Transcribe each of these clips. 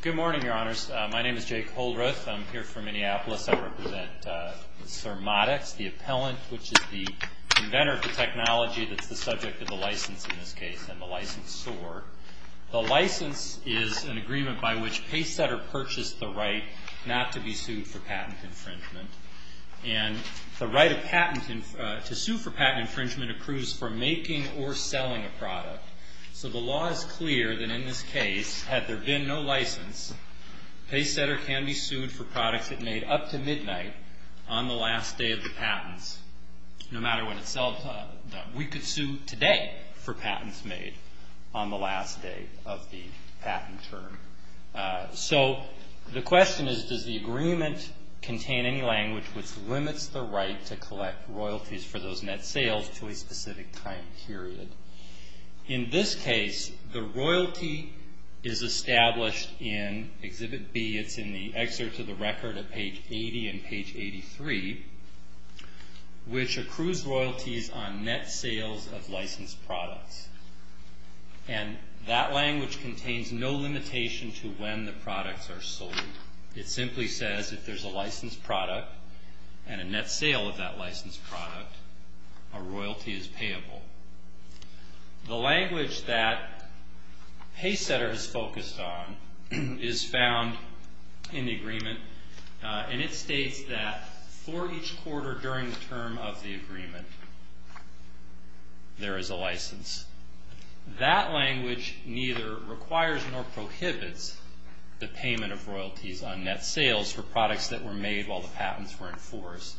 Good morning, Your Honors. My name is Jake Holdreth. I'm here for Minneapolis. I represent SurModics, the appellant, which is the inventor of the technology that's the subject of the license in this case, and the licensor. The license is an agreement by which Pacesetter purchased the right not to be sued for patent infringement. And the right to sue for patent infringement approves for making or selling a product. So the law is clear that in this case, had there been no license, Pacesetter can be sued for products it made up to midnight on the last day of the patents, no matter what it sells. We could sue today for patents made on the last day of the patent term. So the question is, does the agreement contain any language which limits the right to collect royalties for those net sales to a specific time period? In this case, the royalty is established in Exhibit B. It's in the excerpts of the record at page 80 and page 83, which accrues royalties on net sales of licensed products. And that language contains no limitation to when the products are sold. It simply says if there's a licensed product and a net sale of that licensed product, a royalty is payable. The language that Pacesetter is focused on is found in the agreement, and it states that for each quarter during the term of the agreement, there is a license. That language neither requires nor prohibits the payment of royalties on net sales for products that were made while the patents were in force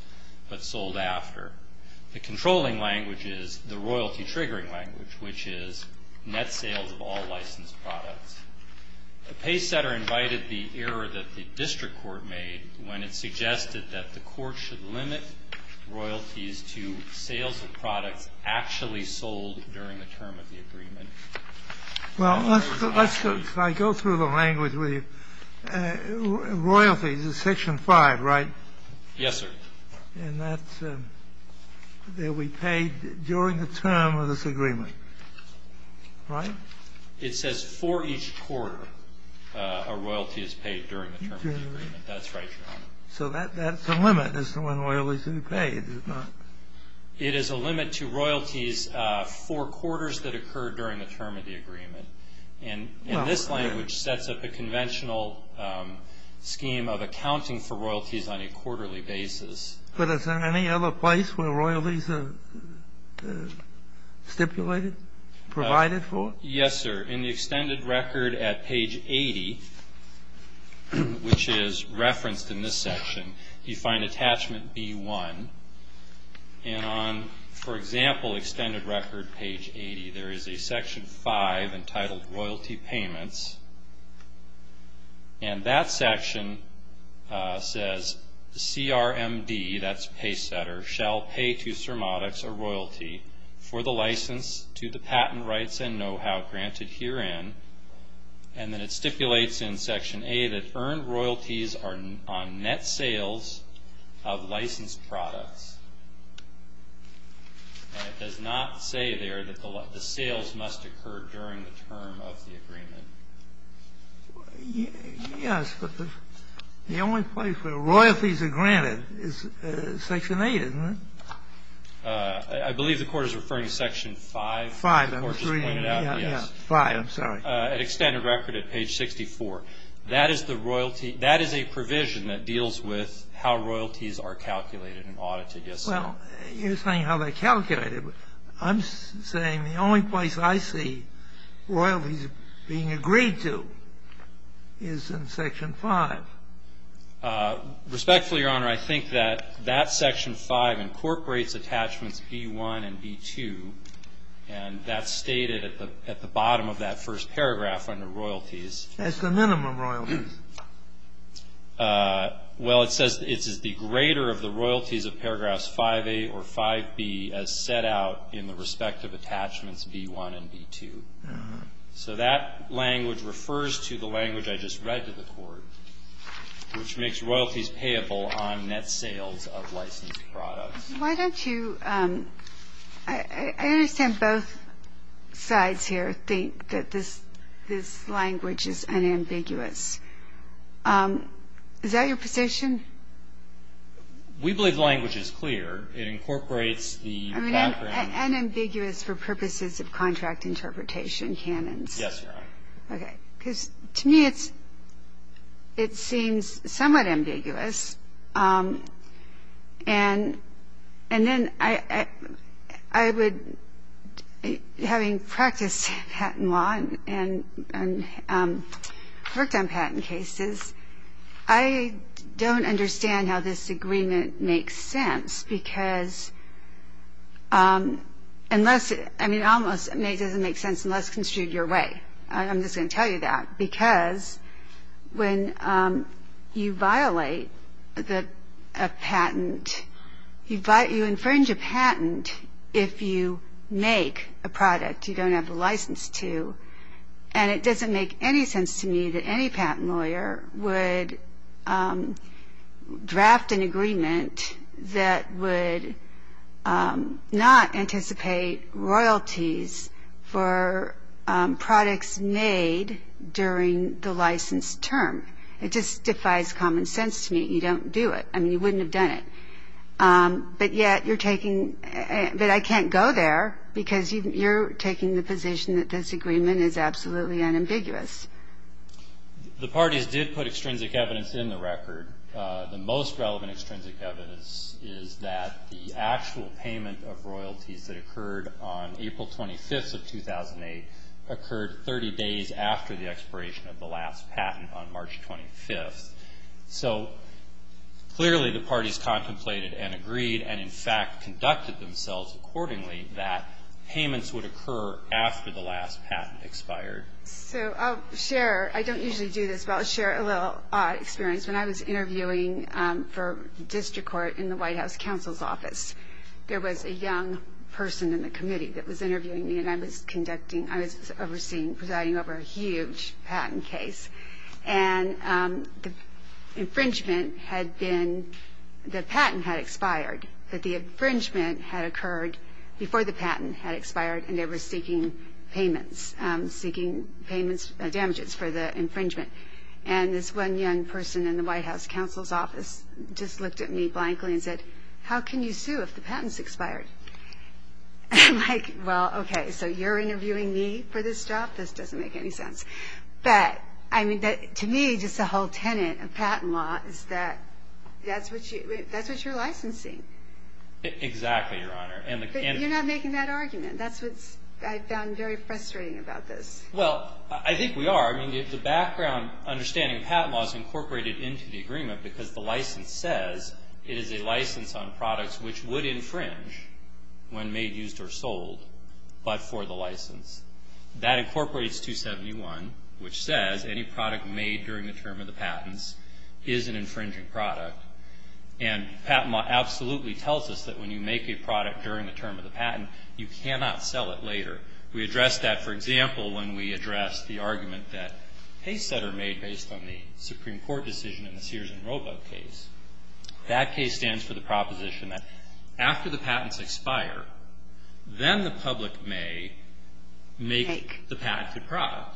but sold after. The controlling language is the royalty-triggering language, which is net sales of all licensed products. Pacesetter invited the error that the district court made when it suggested that the court should limit royalties to sales of products actually sold during the term of the agreement. Well, let's go. Can I go through the language with you? Royalties is Section 5, right? Yes, sir. And that's that we paid during the term of this agreement, right? It says for each quarter a royalty is paid during the term of the agreement. That's right, Your Honor. So that's a limit as to when royalties can be paid, is it not? It is a limit to royalties for quarters that occur during the term of the agreement. And this language sets up a conventional scheme of accounting for royalties on a quarterly basis. But is there any other place where royalties are stipulated, provided for? Yes, sir. In the extended record at page 80, which is referenced in this section, you find attachment B1. And on, for example, extended record page 80, there is a Section 5 entitled Royalty Payments. And that section says CRMD, that's Pacesetter, shall pay to Cermodax a royalty for the license to the patent rights and know-how granted herein. And then it stipulates in Section A that earned royalties are on net sales of licensed products. And it does not say there that the sales must occur during the term of the agreement. Yes, but the only place where royalties are granted is Section 8, isn't it? I believe the Court is referring to Section 5. 5, I'm afraid. Extended record at page 64. That is the royalty, that is a provision that deals with how royalties are calculated and audited, yes, sir. Well, you're saying how they're calculated. I'm saying the only place I see royalties being agreed to is in Section 5. Respectfully, Your Honor, I think that that Section 5 incorporates attachments B1 and B2. And that's stated at the bottom of that first paragraph under royalties. That's the minimum royalties. Well, it says it's the greater of the royalties of paragraphs 5A or 5B as set out in the respective attachments B1 and B2. So that language refers to the language I just read to the Court, which makes royalties payable on net sales of licensed products. Why don't you – I understand both sides here think that this language is unambiguous. Is that your position? We believe the language is clear. It incorporates the background – Unambiguous for purposes of contract interpretation canons. Yes, Your Honor. Okay. Because to me it's – it seems somewhat ambiguous. And then I would – having practiced patent law and worked on patent cases, I don't understand how this agreement makes sense, because unless – I mean, almost it doesn't make sense unless construed your way. I'm just going to tell you that, because when you violate a patent, you infringe a patent if you make a product you don't have the license to. And it doesn't make any sense to me that any patent lawyer would draft an agreement that would not anticipate royalties for products made during the licensed term. It just defies common sense to me. You don't do it. I mean, you wouldn't have done it. But yet you're taking – but I can't go there, because you're taking the position that this agreement is absolutely unambiguous. The parties did put extrinsic evidence in the record. The most relevant extrinsic evidence is that the actual payment of royalties that occurred on April 25th of 2008 occurred 30 days after the expiration of the last patent on March 25th. So clearly the parties contemplated and agreed and, in fact, conducted themselves accordingly that payments would occur after the last patent expired. So I'll share – I don't usually do this, but I'll share a little experience. When I was interviewing for district court in the White House Counsel's Office, there was a young person in the committee that was interviewing me, and I was conducting – I was overseeing, presiding over a huge patent case. And the infringement had been – the patent had expired, but the infringement had occurred before the patent had expired, and they were seeking payments, seeking damages for the infringement. And this one young person in the White House Counsel's Office just looked at me blankly and said, how can you sue if the patent's expired? I'm like, well, okay, so you're interviewing me for this job? This doesn't make any sense. But, I mean, to me, just the whole tenet of patent law is that that's what you're licensing. Exactly, Your Honor. But you're not making that argument. That's what I found very frustrating about this. Well, I think we are. I mean, the background understanding of patent law is incorporated into the agreement because the license says it is a license on products which would infringe when made, used, or sold, but for the license. That incorporates 271, which says any product made during the term of the patents is an infringing product. And patent law absolutely tells us that when you make a product during the term of the patent, you cannot sell it later. We addressed that, for example, when we addressed the argument that case setter made based on the Supreme Court decision in the Sears and Roebuck case. That case stands for the proposition that after the patents expire, then the public may make the patent a product.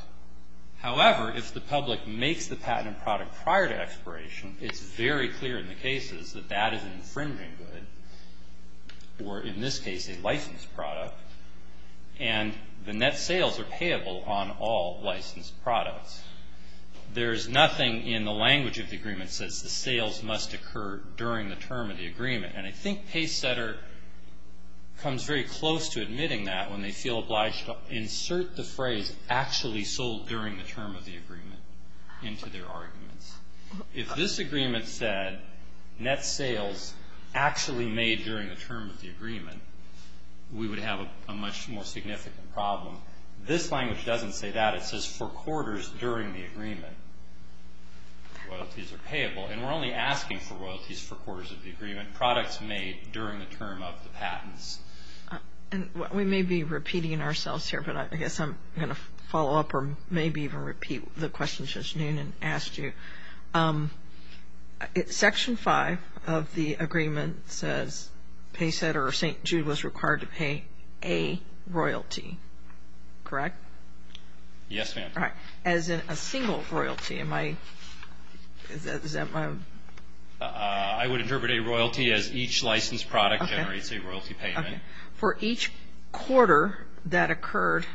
However, if the public makes the patent a product prior to expiration, it's very clear in the net sales are payable on all licensed products. There is nothing in the language of the agreement that says the sales must occur during the term of the agreement. And I think case setter comes very close to admitting that when they feel obliged to insert the phrase actually sold during the term of the agreement into their arguments. If this agreement said net sales actually made during the term of the agreement, we would have a much more significant problem. This language doesn't say that. It says for quarters during the agreement, royalties are payable. And we're only asking for royalties for quarters of the agreement, products made during the term of the patents. And we may be repeating ourselves here, but I guess I'm going to follow up or maybe even repeat the questions just noon and ask you. Section 5 of the agreement says case setter or St. Jude was required to pay a royalty. Correct? Yes, ma'am. All right. As in a single royalty. Am I – is that my – I would interpret a royalty as each licensed product generates a royalty payment. For each quarter that occurred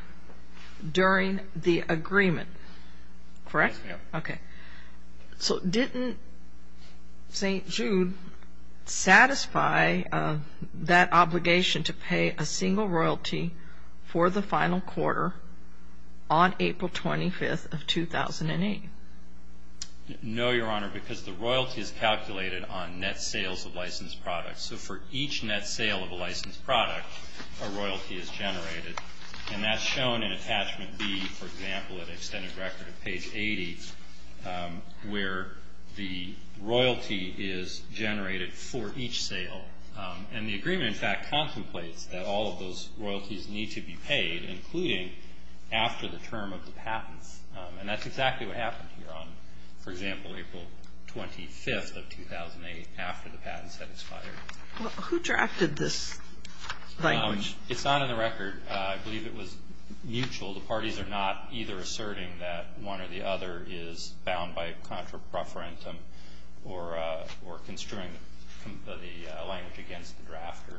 during the agreement. Correct? Yes, ma'am. Okay. So didn't St. Jude satisfy that obligation to pay a single royalty for the final quarter on April 25th of 2008? No, Your Honor, because the royalty is calculated on net sales of licensed products. So for each net sale of a licensed product, a royalty is generated. And that's shown in attachment B, for example, at an extended record at page 80, where the royalty is generated for each sale. And the agreement, in fact, contemplates that all of those royalties need to be paid, including after the term of the patents. And that's exactly what happened here on, for example, April 25th of 2008, after the patent set expired. Who drafted this language? It's not in the record. I believe it was mutual. The parties are not either asserting that one or the other is bound by contra preferentum or construing the language against the drafter.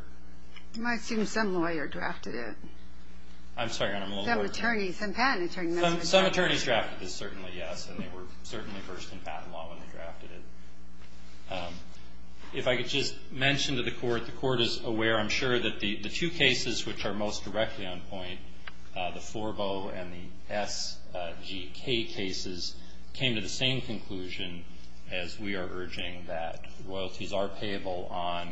It might seem some lawyer drafted it. I'm sorry, Your Honor. Some attorneys, some patent attorneys. Some attorneys drafted this, certainly, yes. And they were certainly first in patent law when they drafted it. If I could just mention to the Court, the Court is aware, I'm sure, that the two cases which are most directly on point, the Forbeau and the SGK cases, came to the same conclusion as we are urging, that royalties are payable on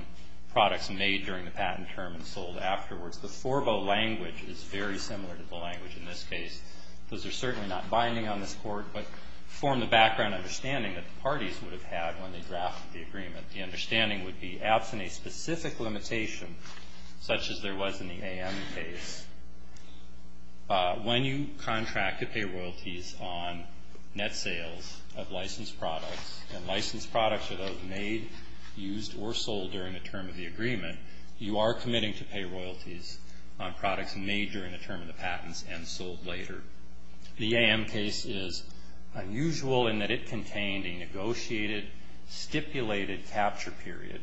products made during the patent term and sold afterwards. The Forbeau language is very similar to the language in this case. Those are certainly not binding on this Court, but form the background understanding that the parties would have had when they drafted the agreement. The understanding would be absent a specific limitation such as there was in the AM case. When you contract to pay royalties on net sales of licensed products, and licensed products are those made, used, or sold during the term of the agreement, you are committing to pay royalties on products made during the term of the patents and sold later. The AM case is unusual in that it contained a negotiated, stipulated capture period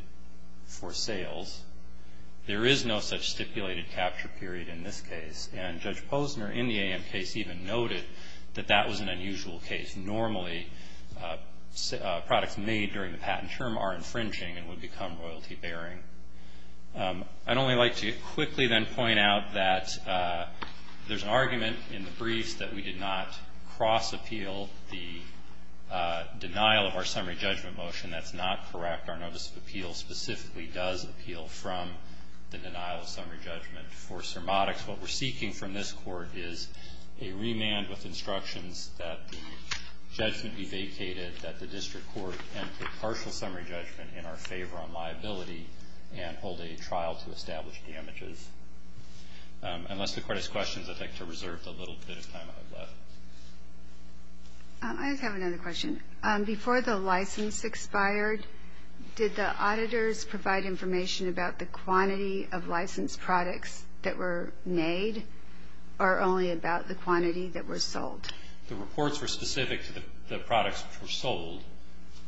for sales. There is no such stipulated capture period in this case. And Judge Posner in the AM case even noted that that was an unusual case. Normally, products made during the patent term are infringing and would become royalty bearing. I'd only like to quickly then point out that there's an argument in the briefs that we did not cross-appeal the denial of our summary judgment motion. That's not correct. Our notice of appeal specifically does appeal from the denial of summary judgment for cermotics. What we're seeking from this Court is a remand with instructions that the judgment be vacated, that the district court enter partial summary judgment in our favor on liability, and hold a trial to establish damages. Unless the Court has questions, I'd like to reserve the little bit of time I have left. I just have another question. Before the license expired, did the auditors provide information about the quantity of licensed products that were made, or only about the quantity that were sold? The reports were specific to the products that were sold,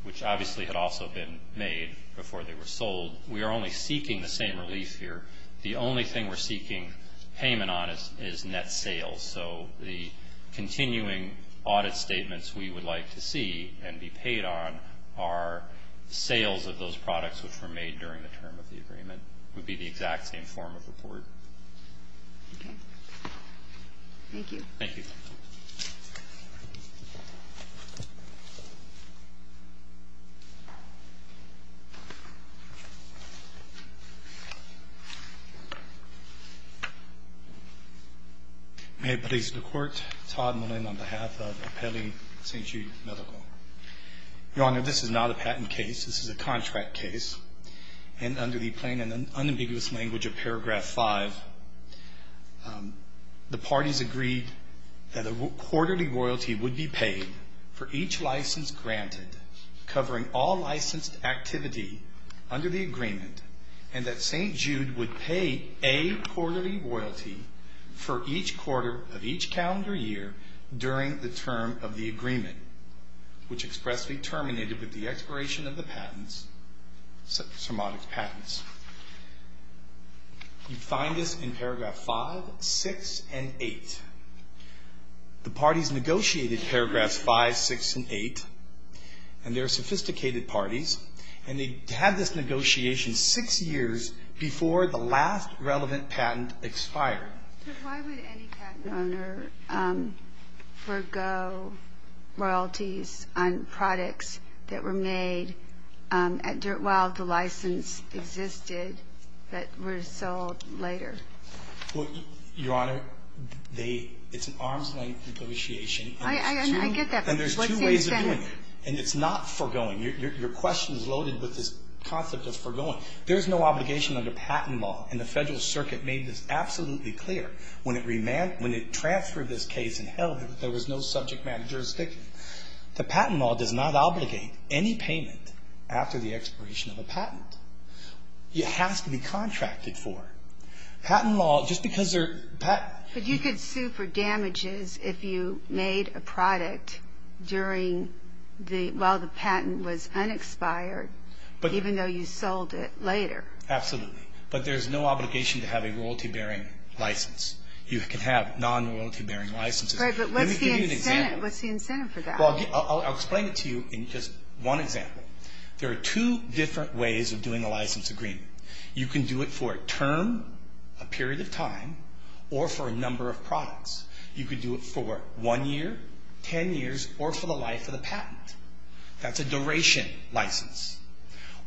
which obviously had also been made before they were sold. We are only seeking the same relief here. The only thing we're seeking payment on is net sales. So the continuing audit statements we would like to see and be paid on are sales of those products which were made during the term of the agreement. It would be the exact same form of report. Okay. Thank you. Thank you. May it please the Court. Todd Mullin on behalf of Apelli Saint Jude Medical. Your Honor, this is not a patent case. This is a contract case. And under the plain and unambiguous language of paragraph five, the parties agreed that a quarterly royalty would be paid for each license granted, covering all licensed activity under the agreement, and that Saint Jude would pay a quarterly royalty for each quarter of each calendar year during the term of the agreement, which expressly terminated with the expiration of the patents, somatic patents. You find this in paragraph five, six, and eight. The parties negotiated paragraphs five, six, and eight, and they're sophisticated parties, and they had this negotiation six years before the last relevant patent expired. Sir, why would any patent owner forego royalties on products that were made while the license existed that were sold later? Your Honor, it's an arm's-length negotiation. I get that. And there's two ways of doing it, and it's not foregoing. Your question is loaded with this concept of foregoing. There's no obligation under patent law, and the Federal Circuit made this absolutely clear when it transferred this case and held that there was no subject matter jurisdiction. The patent law does not obligate any payment after the expiration of a patent. It has to be contracted for. Patent law, just because there are patents. But you could sue for damages if you made a product while the patent was unexpired, even though you sold it later. Absolutely. But there's no obligation to have a royalty-bearing license. You can have non-royalty-bearing licenses. Right, but what's the incentive for that? Well, I'll explain it to you in just one example. There are two different ways of doing a license agreement. You can do it for a term, a period of time, or for a number of products. You could do it for one year, ten years, or for the life of the patent. That's a duration license.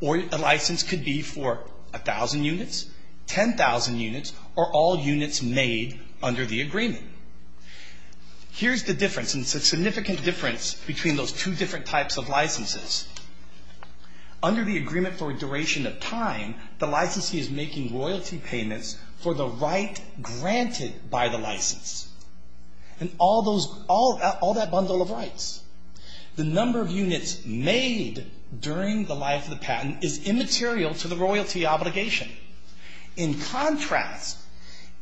Or a license could be for 1,000 units, 10,000 units, or all units made under the agreement. Here's the difference, and it's a significant difference between those two different types of licenses. Under the agreement for a duration of time, the licensee is making royalty payments for the right granted by the license. And all that bundle of rights. The number of units made during the life of the patent is immaterial to the royalty obligation. In contrast,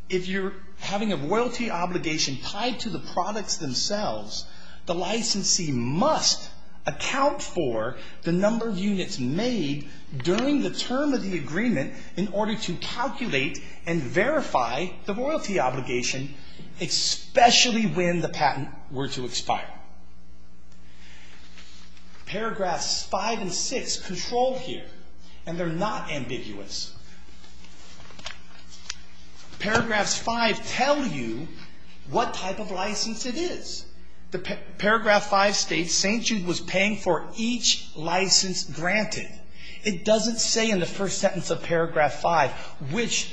if you're having a royalty obligation tied to the products themselves, the licensee must account for the number of units made during the term of the agreement in order to calculate and verify the royalty obligation, especially when the patent were to expire. Paragraphs 5 and 6 control here, and they're not ambiguous. Paragraphs 5 tell you what type of license it is. Paragraph 5 states St. Jude was paying for each license granted. It doesn't say in the first sentence of paragraph 5, which,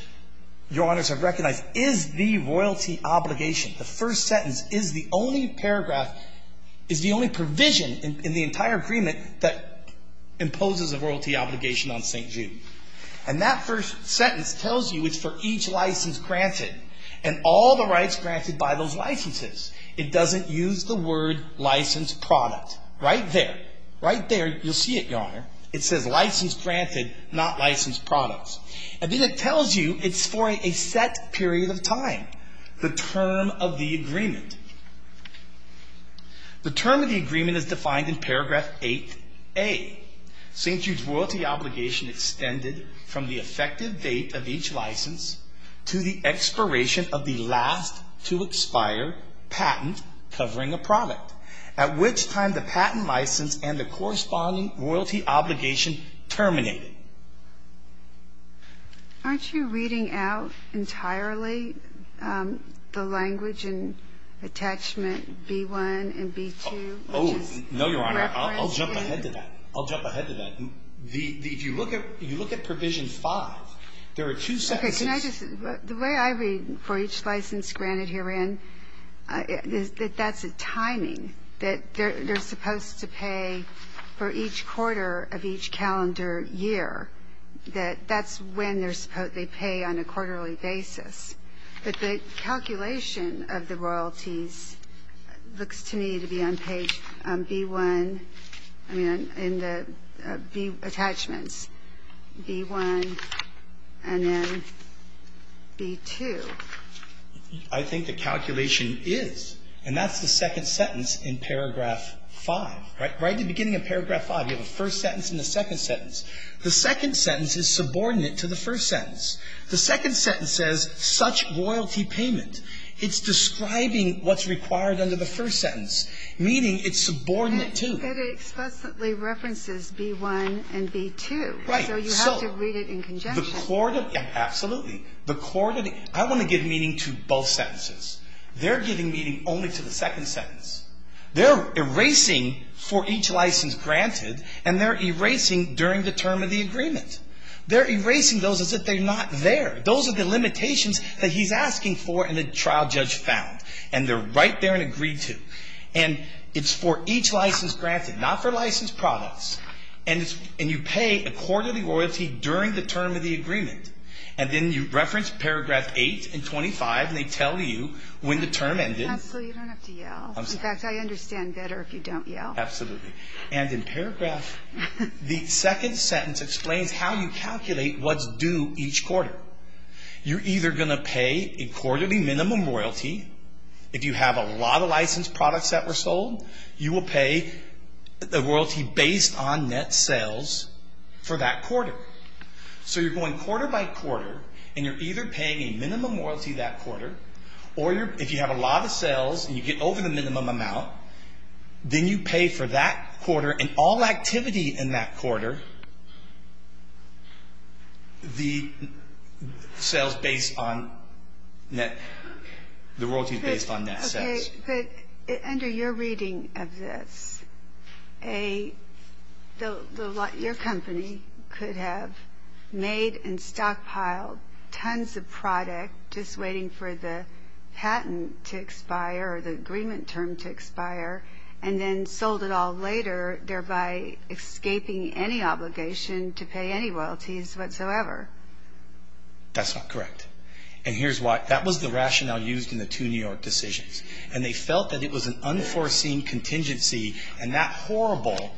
Your Honors, I recognize is the royalty obligation. The first sentence is the only paragraph, is the only provision in the entire agreement that imposes a royalty obligation on St. Jude. And that first sentence tells you it's for each license granted and all the rights granted by those licenses. It doesn't use the word license product. Right there, right there, you'll see it, Your Honor. It says license granted, not license products. And then it tells you it's for a set period of time, the term of the agreement. The term of the agreement is defined in paragraph 8A. St. Jude's royalty obligation extended from the effective date of each license to the expiration of the last to expire patent covering a product, at which time the patent license and the corresponding royalty obligation terminated. Aren't you reading out entirely the language and attachment B-1 and B-2? Oh, no, Your Honor. I'll jump ahead to that. I'll jump ahead to that. If you look at provision 5, there are two sentences. Okay. Can I just, the way I read for each license granted herein, that that's a timing, that they're supposed to pay for each quarter of each calendar year, that that's when they pay on a quarterly basis. But the calculation of the royalties looks to me to be on page B-1, I mean, in the B attachments, B-1 and then B-2. I think the calculation is. And that's the second sentence in paragraph 5, right? Right at the beginning of paragraph 5, you have a first sentence and a second sentence. The second sentence is subordinate to the first sentence. The second sentence says, such royalty payment. It's describing what's required under the first sentence, meaning it's subordinate to. But it explicitly references B-1 and B-2. Right. So you have to read it in conjunction. Absolutely. I want to give meaning to both sentences. They're giving meaning only to the second sentence. They're erasing for each license granted and they're erasing during the term of the agreement. They're erasing those as if they're not there. Those are the limitations that he's asking for and the trial judge found. And they're right there and agreed to. And it's for each license granted, not for licensed products. And you pay a quarter of the royalty during the term of the agreement. And then you reference paragraph 8 and 25 and they tell you when the term ended. Absolutely, you don't have to yell. I'm sorry. In fact, I understand better if you don't yell. Absolutely. And in paragraph, the second sentence explains how you calculate what's due each quarter. You're either going to pay a quarterly minimum royalty. If you have a lot of licensed products that were sold, you will pay the royalty based on net sales for that quarter. So you're going quarter by quarter and you're either paying a minimum royalty that quarter or if you have a lot of sales and you get over the minimum amount, then you pay for that quarter and all activity in that quarter, the sales based on net, the royalties based on net sales. Okay, but under your reading of this, your company could have made and stockpiled tons of product just waiting for the patent to expire or the agreement term to expire and then sold it all later, thereby escaping any obligation to pay any royalties whatsoever. That's not correct. And here's why. That was the rationale used in the two New York decisions. And they felt that it was an unforeseen contingency, and that horrible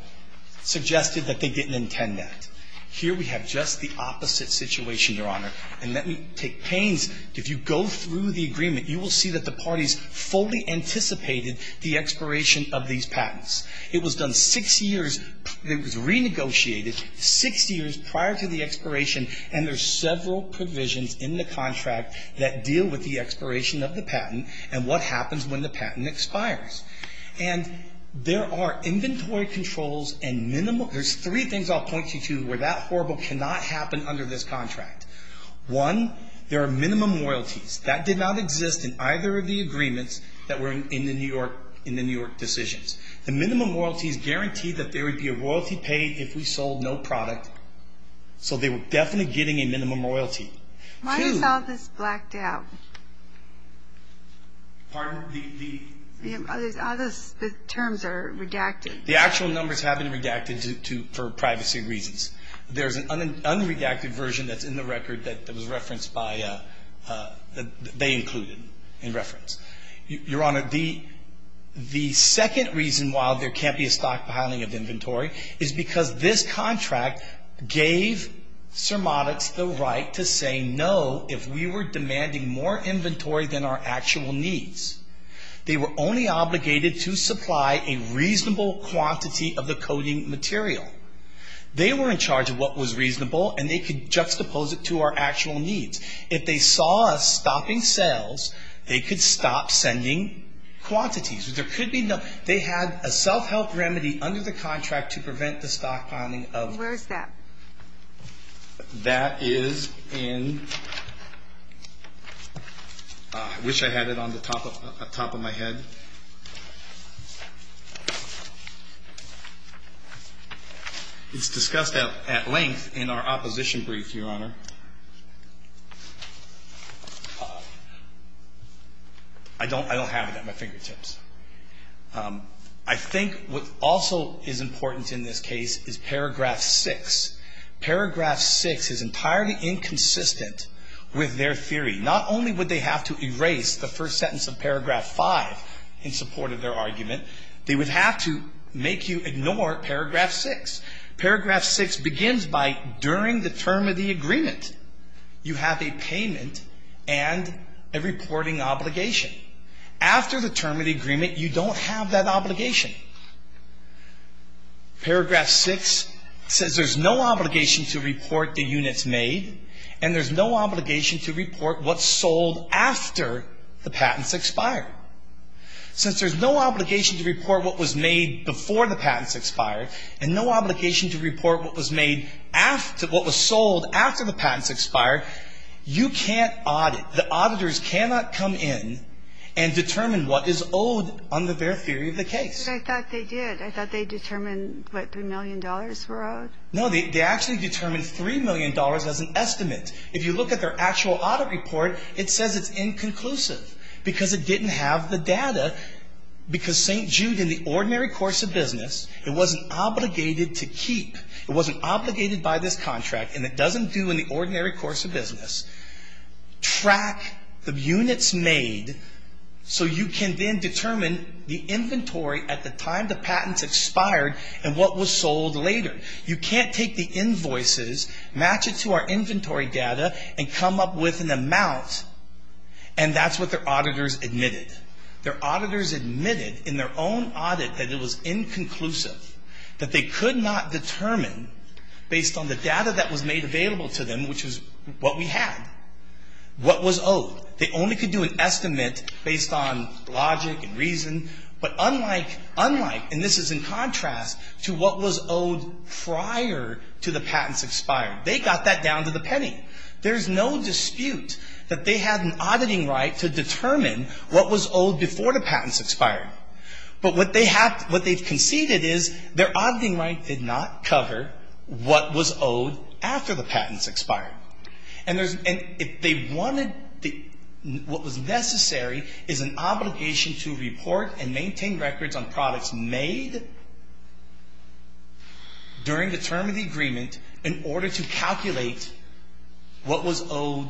suggested that they didn't intend that. Here we have just the opposite situation, Your Honor. And let me take pains. If you go through the agreement, you will see that the parties fully anticipated the expiration of these patents. It was done six years. It was renegotiated six years prior to the expiration, and there's several provisions in the contract that deal with the expiration of the patent and what happens when the patent expires. And there are inventory controls and minimal. There's three things I'll point you to where that horrible cannot happen under this contract. One, there are minimum royalties. That did not exist in either of the agreements that were in the New York decisions. The minimum royalties guaranteed that there would be a royalty paid if we sold no product, so they were definitely getting a minimum royalty. Why is all this blacked out? Pardon? The terms are redacted. The actual numbers have been redacted for privacy reasons. There's an unredacted version that's in the record that was referenced by they included in reference. Your Honor, the second reason why there can't be a stockpiling of inventory is because this contract gave Cermatics the right to say no if we were demanding more inventory than our actual needs. They were only obligated to supply a reasonable quantity of the coding material. They were in charge of what was reasonable, and they could juxtapose it to our actual needs. If they saw us stopping sales, they could stop sending quantities. There could be no they had a self-help remedy under the contract to prevent the stockpiling of. Where is that? That is in, I wish I had it on the top of my head. It's discussed at length in our opposition brief, Your Honor. I don't have it at my fingertips. I think what also is important in this case is paragraph 6. Paragraph 6 is entirely inconsistent with their theory. Not only would they have to erase the first sentence of paragraph 5 in support of their argument, they would have to make you ignore paragraph 6. Paragraph 6 begins by during the term of the agreement, you have a payment and a reporting obligation. After the term of the agreement, you don't have that obligation. Paragraph 6 says there's no obligation to report the units made, and there's no obligation to report what sold after the patents expired. Since there's no obligation to report what was made before the patents expired and no obligation to report what was sold after the patents expired, you can't audit. The auditors cannot come in and determine what is owed under their theory of the case. But I thought they did. I thought they determined, what, $3 million were owed? No, they actually determined $3 million as an estimate. If you look at their actual audit report, it says it's inconclusive because it didn't have the data. Because St. Jude, in the ordinary course of business, it wasn't obligated to keep. It wasn't obligated by this contract, and it doesn't do in the ordinary course of business. Track the units made so you can then determine the inventory at the time the patents expired and what was sold later. You can't take the invoices, match it to our inventory data, and come up with an amount, and that's what their auditors admitted. Their auditors admitted in their own audit that it was inconclusive, that they could not determine based on the data that was made available to them, which is what we had, what was owed. They only could do an estimate based on logic and reason. But unlike, and this is in contrast to what was owed prior to the patents expired, they got that down to the penny. There's no dispute that they had an auditing right to determine what was owed before the patents expired. But what they conceded is their auditing right did not cover what was owed after the patents expired. And if they wanted, what was necessary is an obligation to report and maintain records on products made during the term of the agreement in order to calculate what was owed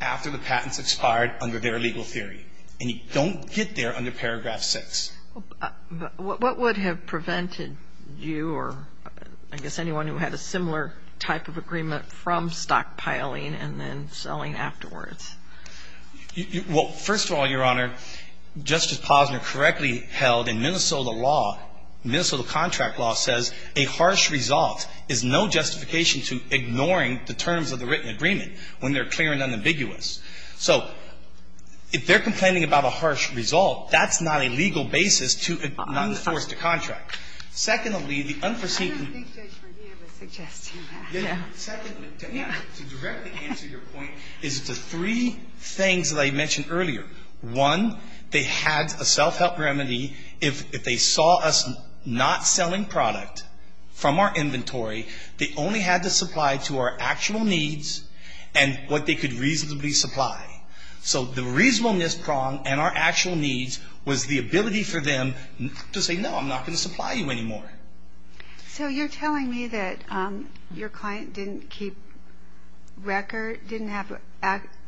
after the patents expired under their legal theory. And you don't get there under Paragraph 6. What would have prevented you or I guess anyone who had a similar type of agreement from stockpiling and then selling afterwards? Well, first of all, Your Honor, Justice Posner correctly held in Minnesota law, Minnesota contract law, says a harsh result is no justification to ignoring the terms of the written agreement when they're clear and unambiguous. So if they're complaining about a harsh result, that's not a legal basis to enforce the contract. Secondly, the unforeseen concerns of the patent. is the three things that I mentioned earlier. One, they had a self-help remedy. If they saw us not selling product from our inventory, they only had to supply to our actual needs and what they could reasonably supply. So the reasonableness prong and our actual needs was the ability for them to say, no, I'm not going to supply you anymore. So you're telling me that your client didn't keep record, didn't have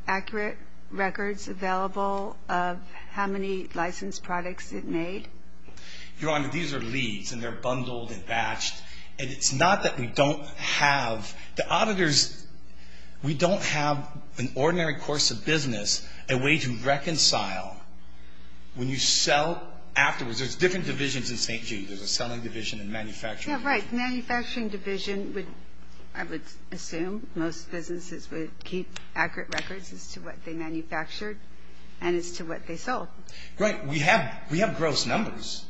accurate records available of how many licensed products it made? Your Honor, these are leads and they're bundled and batched. And it's not that we don't have the auditors. We don't have an ordinary course of business, a way to reconcile. When you sell afterwards, there's different divisions in St. Jude. There's a selling division and manufacturing division. Yeah, right. Manufacturing division would, I would assume, most businesses would keep accurate records as to what they manufactured and as to what they sold. Right. We have gross numbers.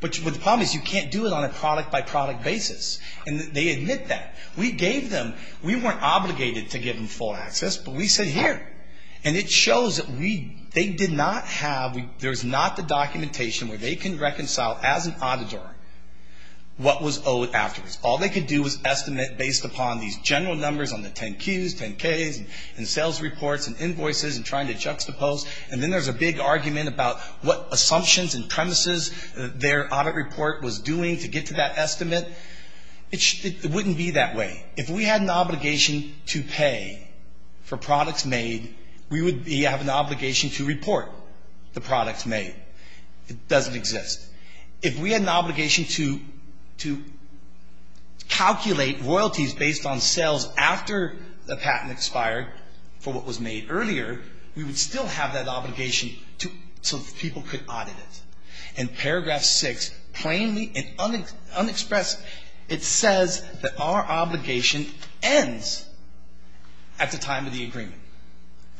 But the problem is you can't do it on a product-by-product basis. And they admit that. We gave them, we weren't obligated to give them full access, but we said, here. And it shows that they did not have, there's not the documentation where they can reconcile as an auditor what was owed afterwards. All they could do was estimate based upon these general numbers on the 10-Qs, 10-Ks, and sales reports and invoices and trying to juxtapose. And then there's a big argument about what assumptions and premises their audit report was doing to get to that estimate. It wouldn't be that way. If we had an obligation to pay for products made, we would have an obligation to report the products made. It doesn't exist. If we had an obligation to calculate royalties based on sales after the patent expired for what was made earlier, we would still have that obligation so that people could audit it. In paragraph 6, plainly and unexpressed, it says that our obligation ends at the time of the agreement,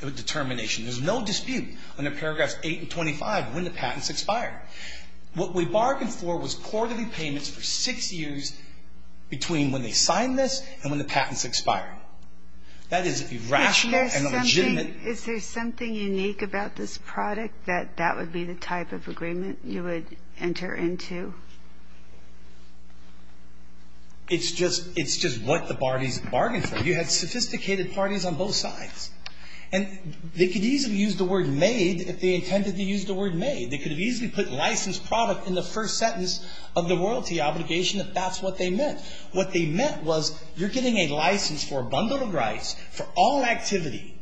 the determination. There's no dispute under paragraphs 8 and 25 when the patent's expired. What we bargained for was quarterly payments for six years between when they signed this and when the patent's expired. That is irrational and illegitimate. Is there something unique about this product that that would be the type of agreement you would enter into? It's just what the parties bargained for. You had sophisticated parties on both sides. And they could easily use the word made if they intended to use the word made. They could have easily put licensed product in the first sentence of the royalty obligation if that's what they meant. What they meant was you're getting a license for a bundle of rights for all activity.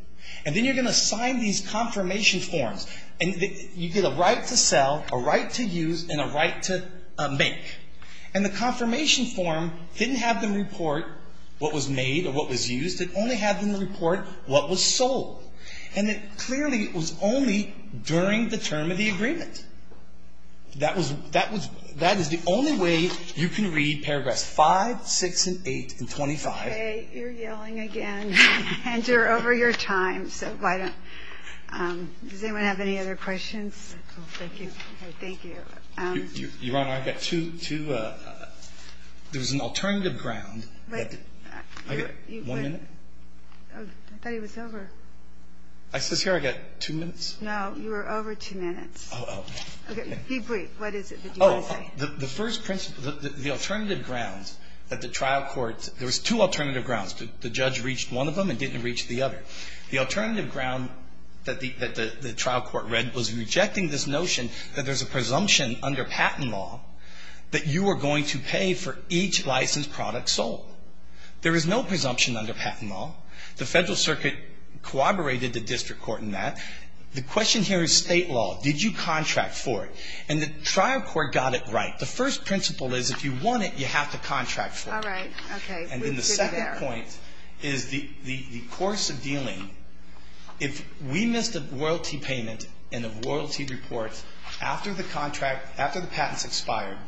And then you're going to sign these confirmation forms. And you get a right to sell, a right to use, and a right to make. And the confirmation form didn't have them report what was made or what was used. It only had them report what was sold. And it clearly was only during the term of the agreement. That is the only way you can read paragraphs 5, 6, and 8, and 25. Okay. You're yelling again. And you're over your time. So why don't you go ahead. Does anyone have any other questions? Thank you. Thank you. Your Honor, I've got two. There was an alternative ground. One minute? I thought he was over. I says here I've got two minutes? No. You are over two minutes. Oh, okay. Be brief. What is it that you want to say? The first principle, the alternative grounds that the trial court, there was two alternative grounds. The judge reached one of them and didn't reach the other. The alternative ground that the trial court read was rejecting this notion that there's a presumption under patent law that you are going to pay for each licensed product sold. There is no presumption under patent law. The federal circuit corroborated the district court in that. The question here is state law. Did you contract for it? And the trial court got it right. The first principle is if you want it, you have to contract for it. All right. Okay. And then the second point is the course of dealing. If we missed a royalty payment and a royalty report after the contract, after the patents expired,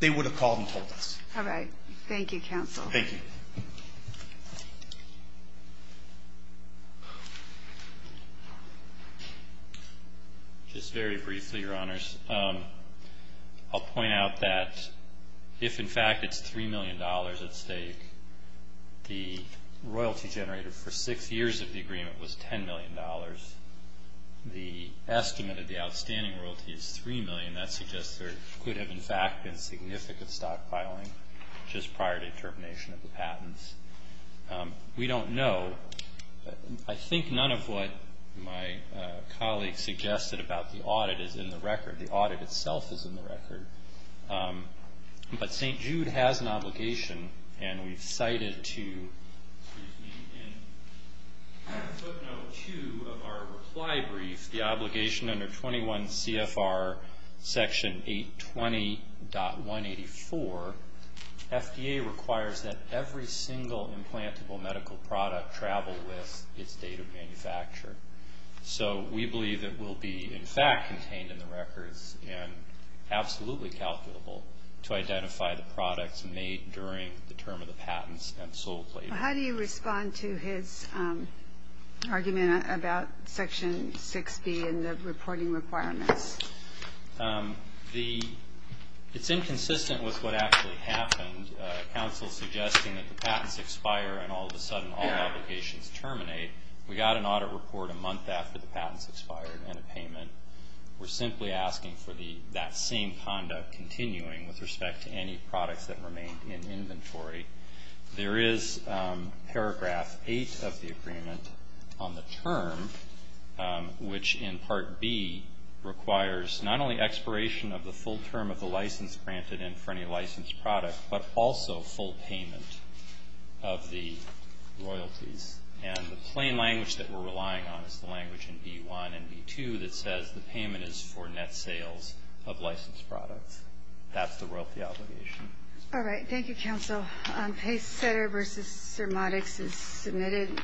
they would have called and told us. All right. Thank you, counsel. Thank you. Just very briefly, Your Honors. I'll point out that if, in fact, it's $3 million at stake, the royalty generated for six years of the agreement was $10 million. The estimate of the outstanding royalty is $3 million. That suggests there could have, in fact, been significant stockpiling just prior to termination of the patents. We don't know. I think none of what my colleague suggested about the audit is in the record. The audit itself is in the record. But St. Jude has an obligation, and we've cited to, excuse me, in footnote 2 of our reply brief, the obligation under 21 CFR Section 820.184, FDA requires that every single implantable medical product travel with its date of manufacture. So we believe it will be, in fact, contained in the records and absolutely calculable to identify the products made during the term of the patents and sold later. So how do you respond to his argument about Section 6B and the reporting requirements? It's inconsistent with what actually happened, counsel suggesting that the patents expire and all of a sudden all obligations terminate. We got an audit report a month after the patents expired and a payment. We're simply asking for that same conduct continuing with respect to any products that remain in inventory. There is Paragraph 8 of the agreement on the term, which in Part B requires not only expiration of the full term of the license granted and for any licensed product, but also full payment of the royalties. And the plain language that we're relying on is the language in B1 and B2 that says the payment is for net sales of licensed products. That's the royalty obligation. All right. Thank you, counsel. Pacesetter v. Cermatics is submitted.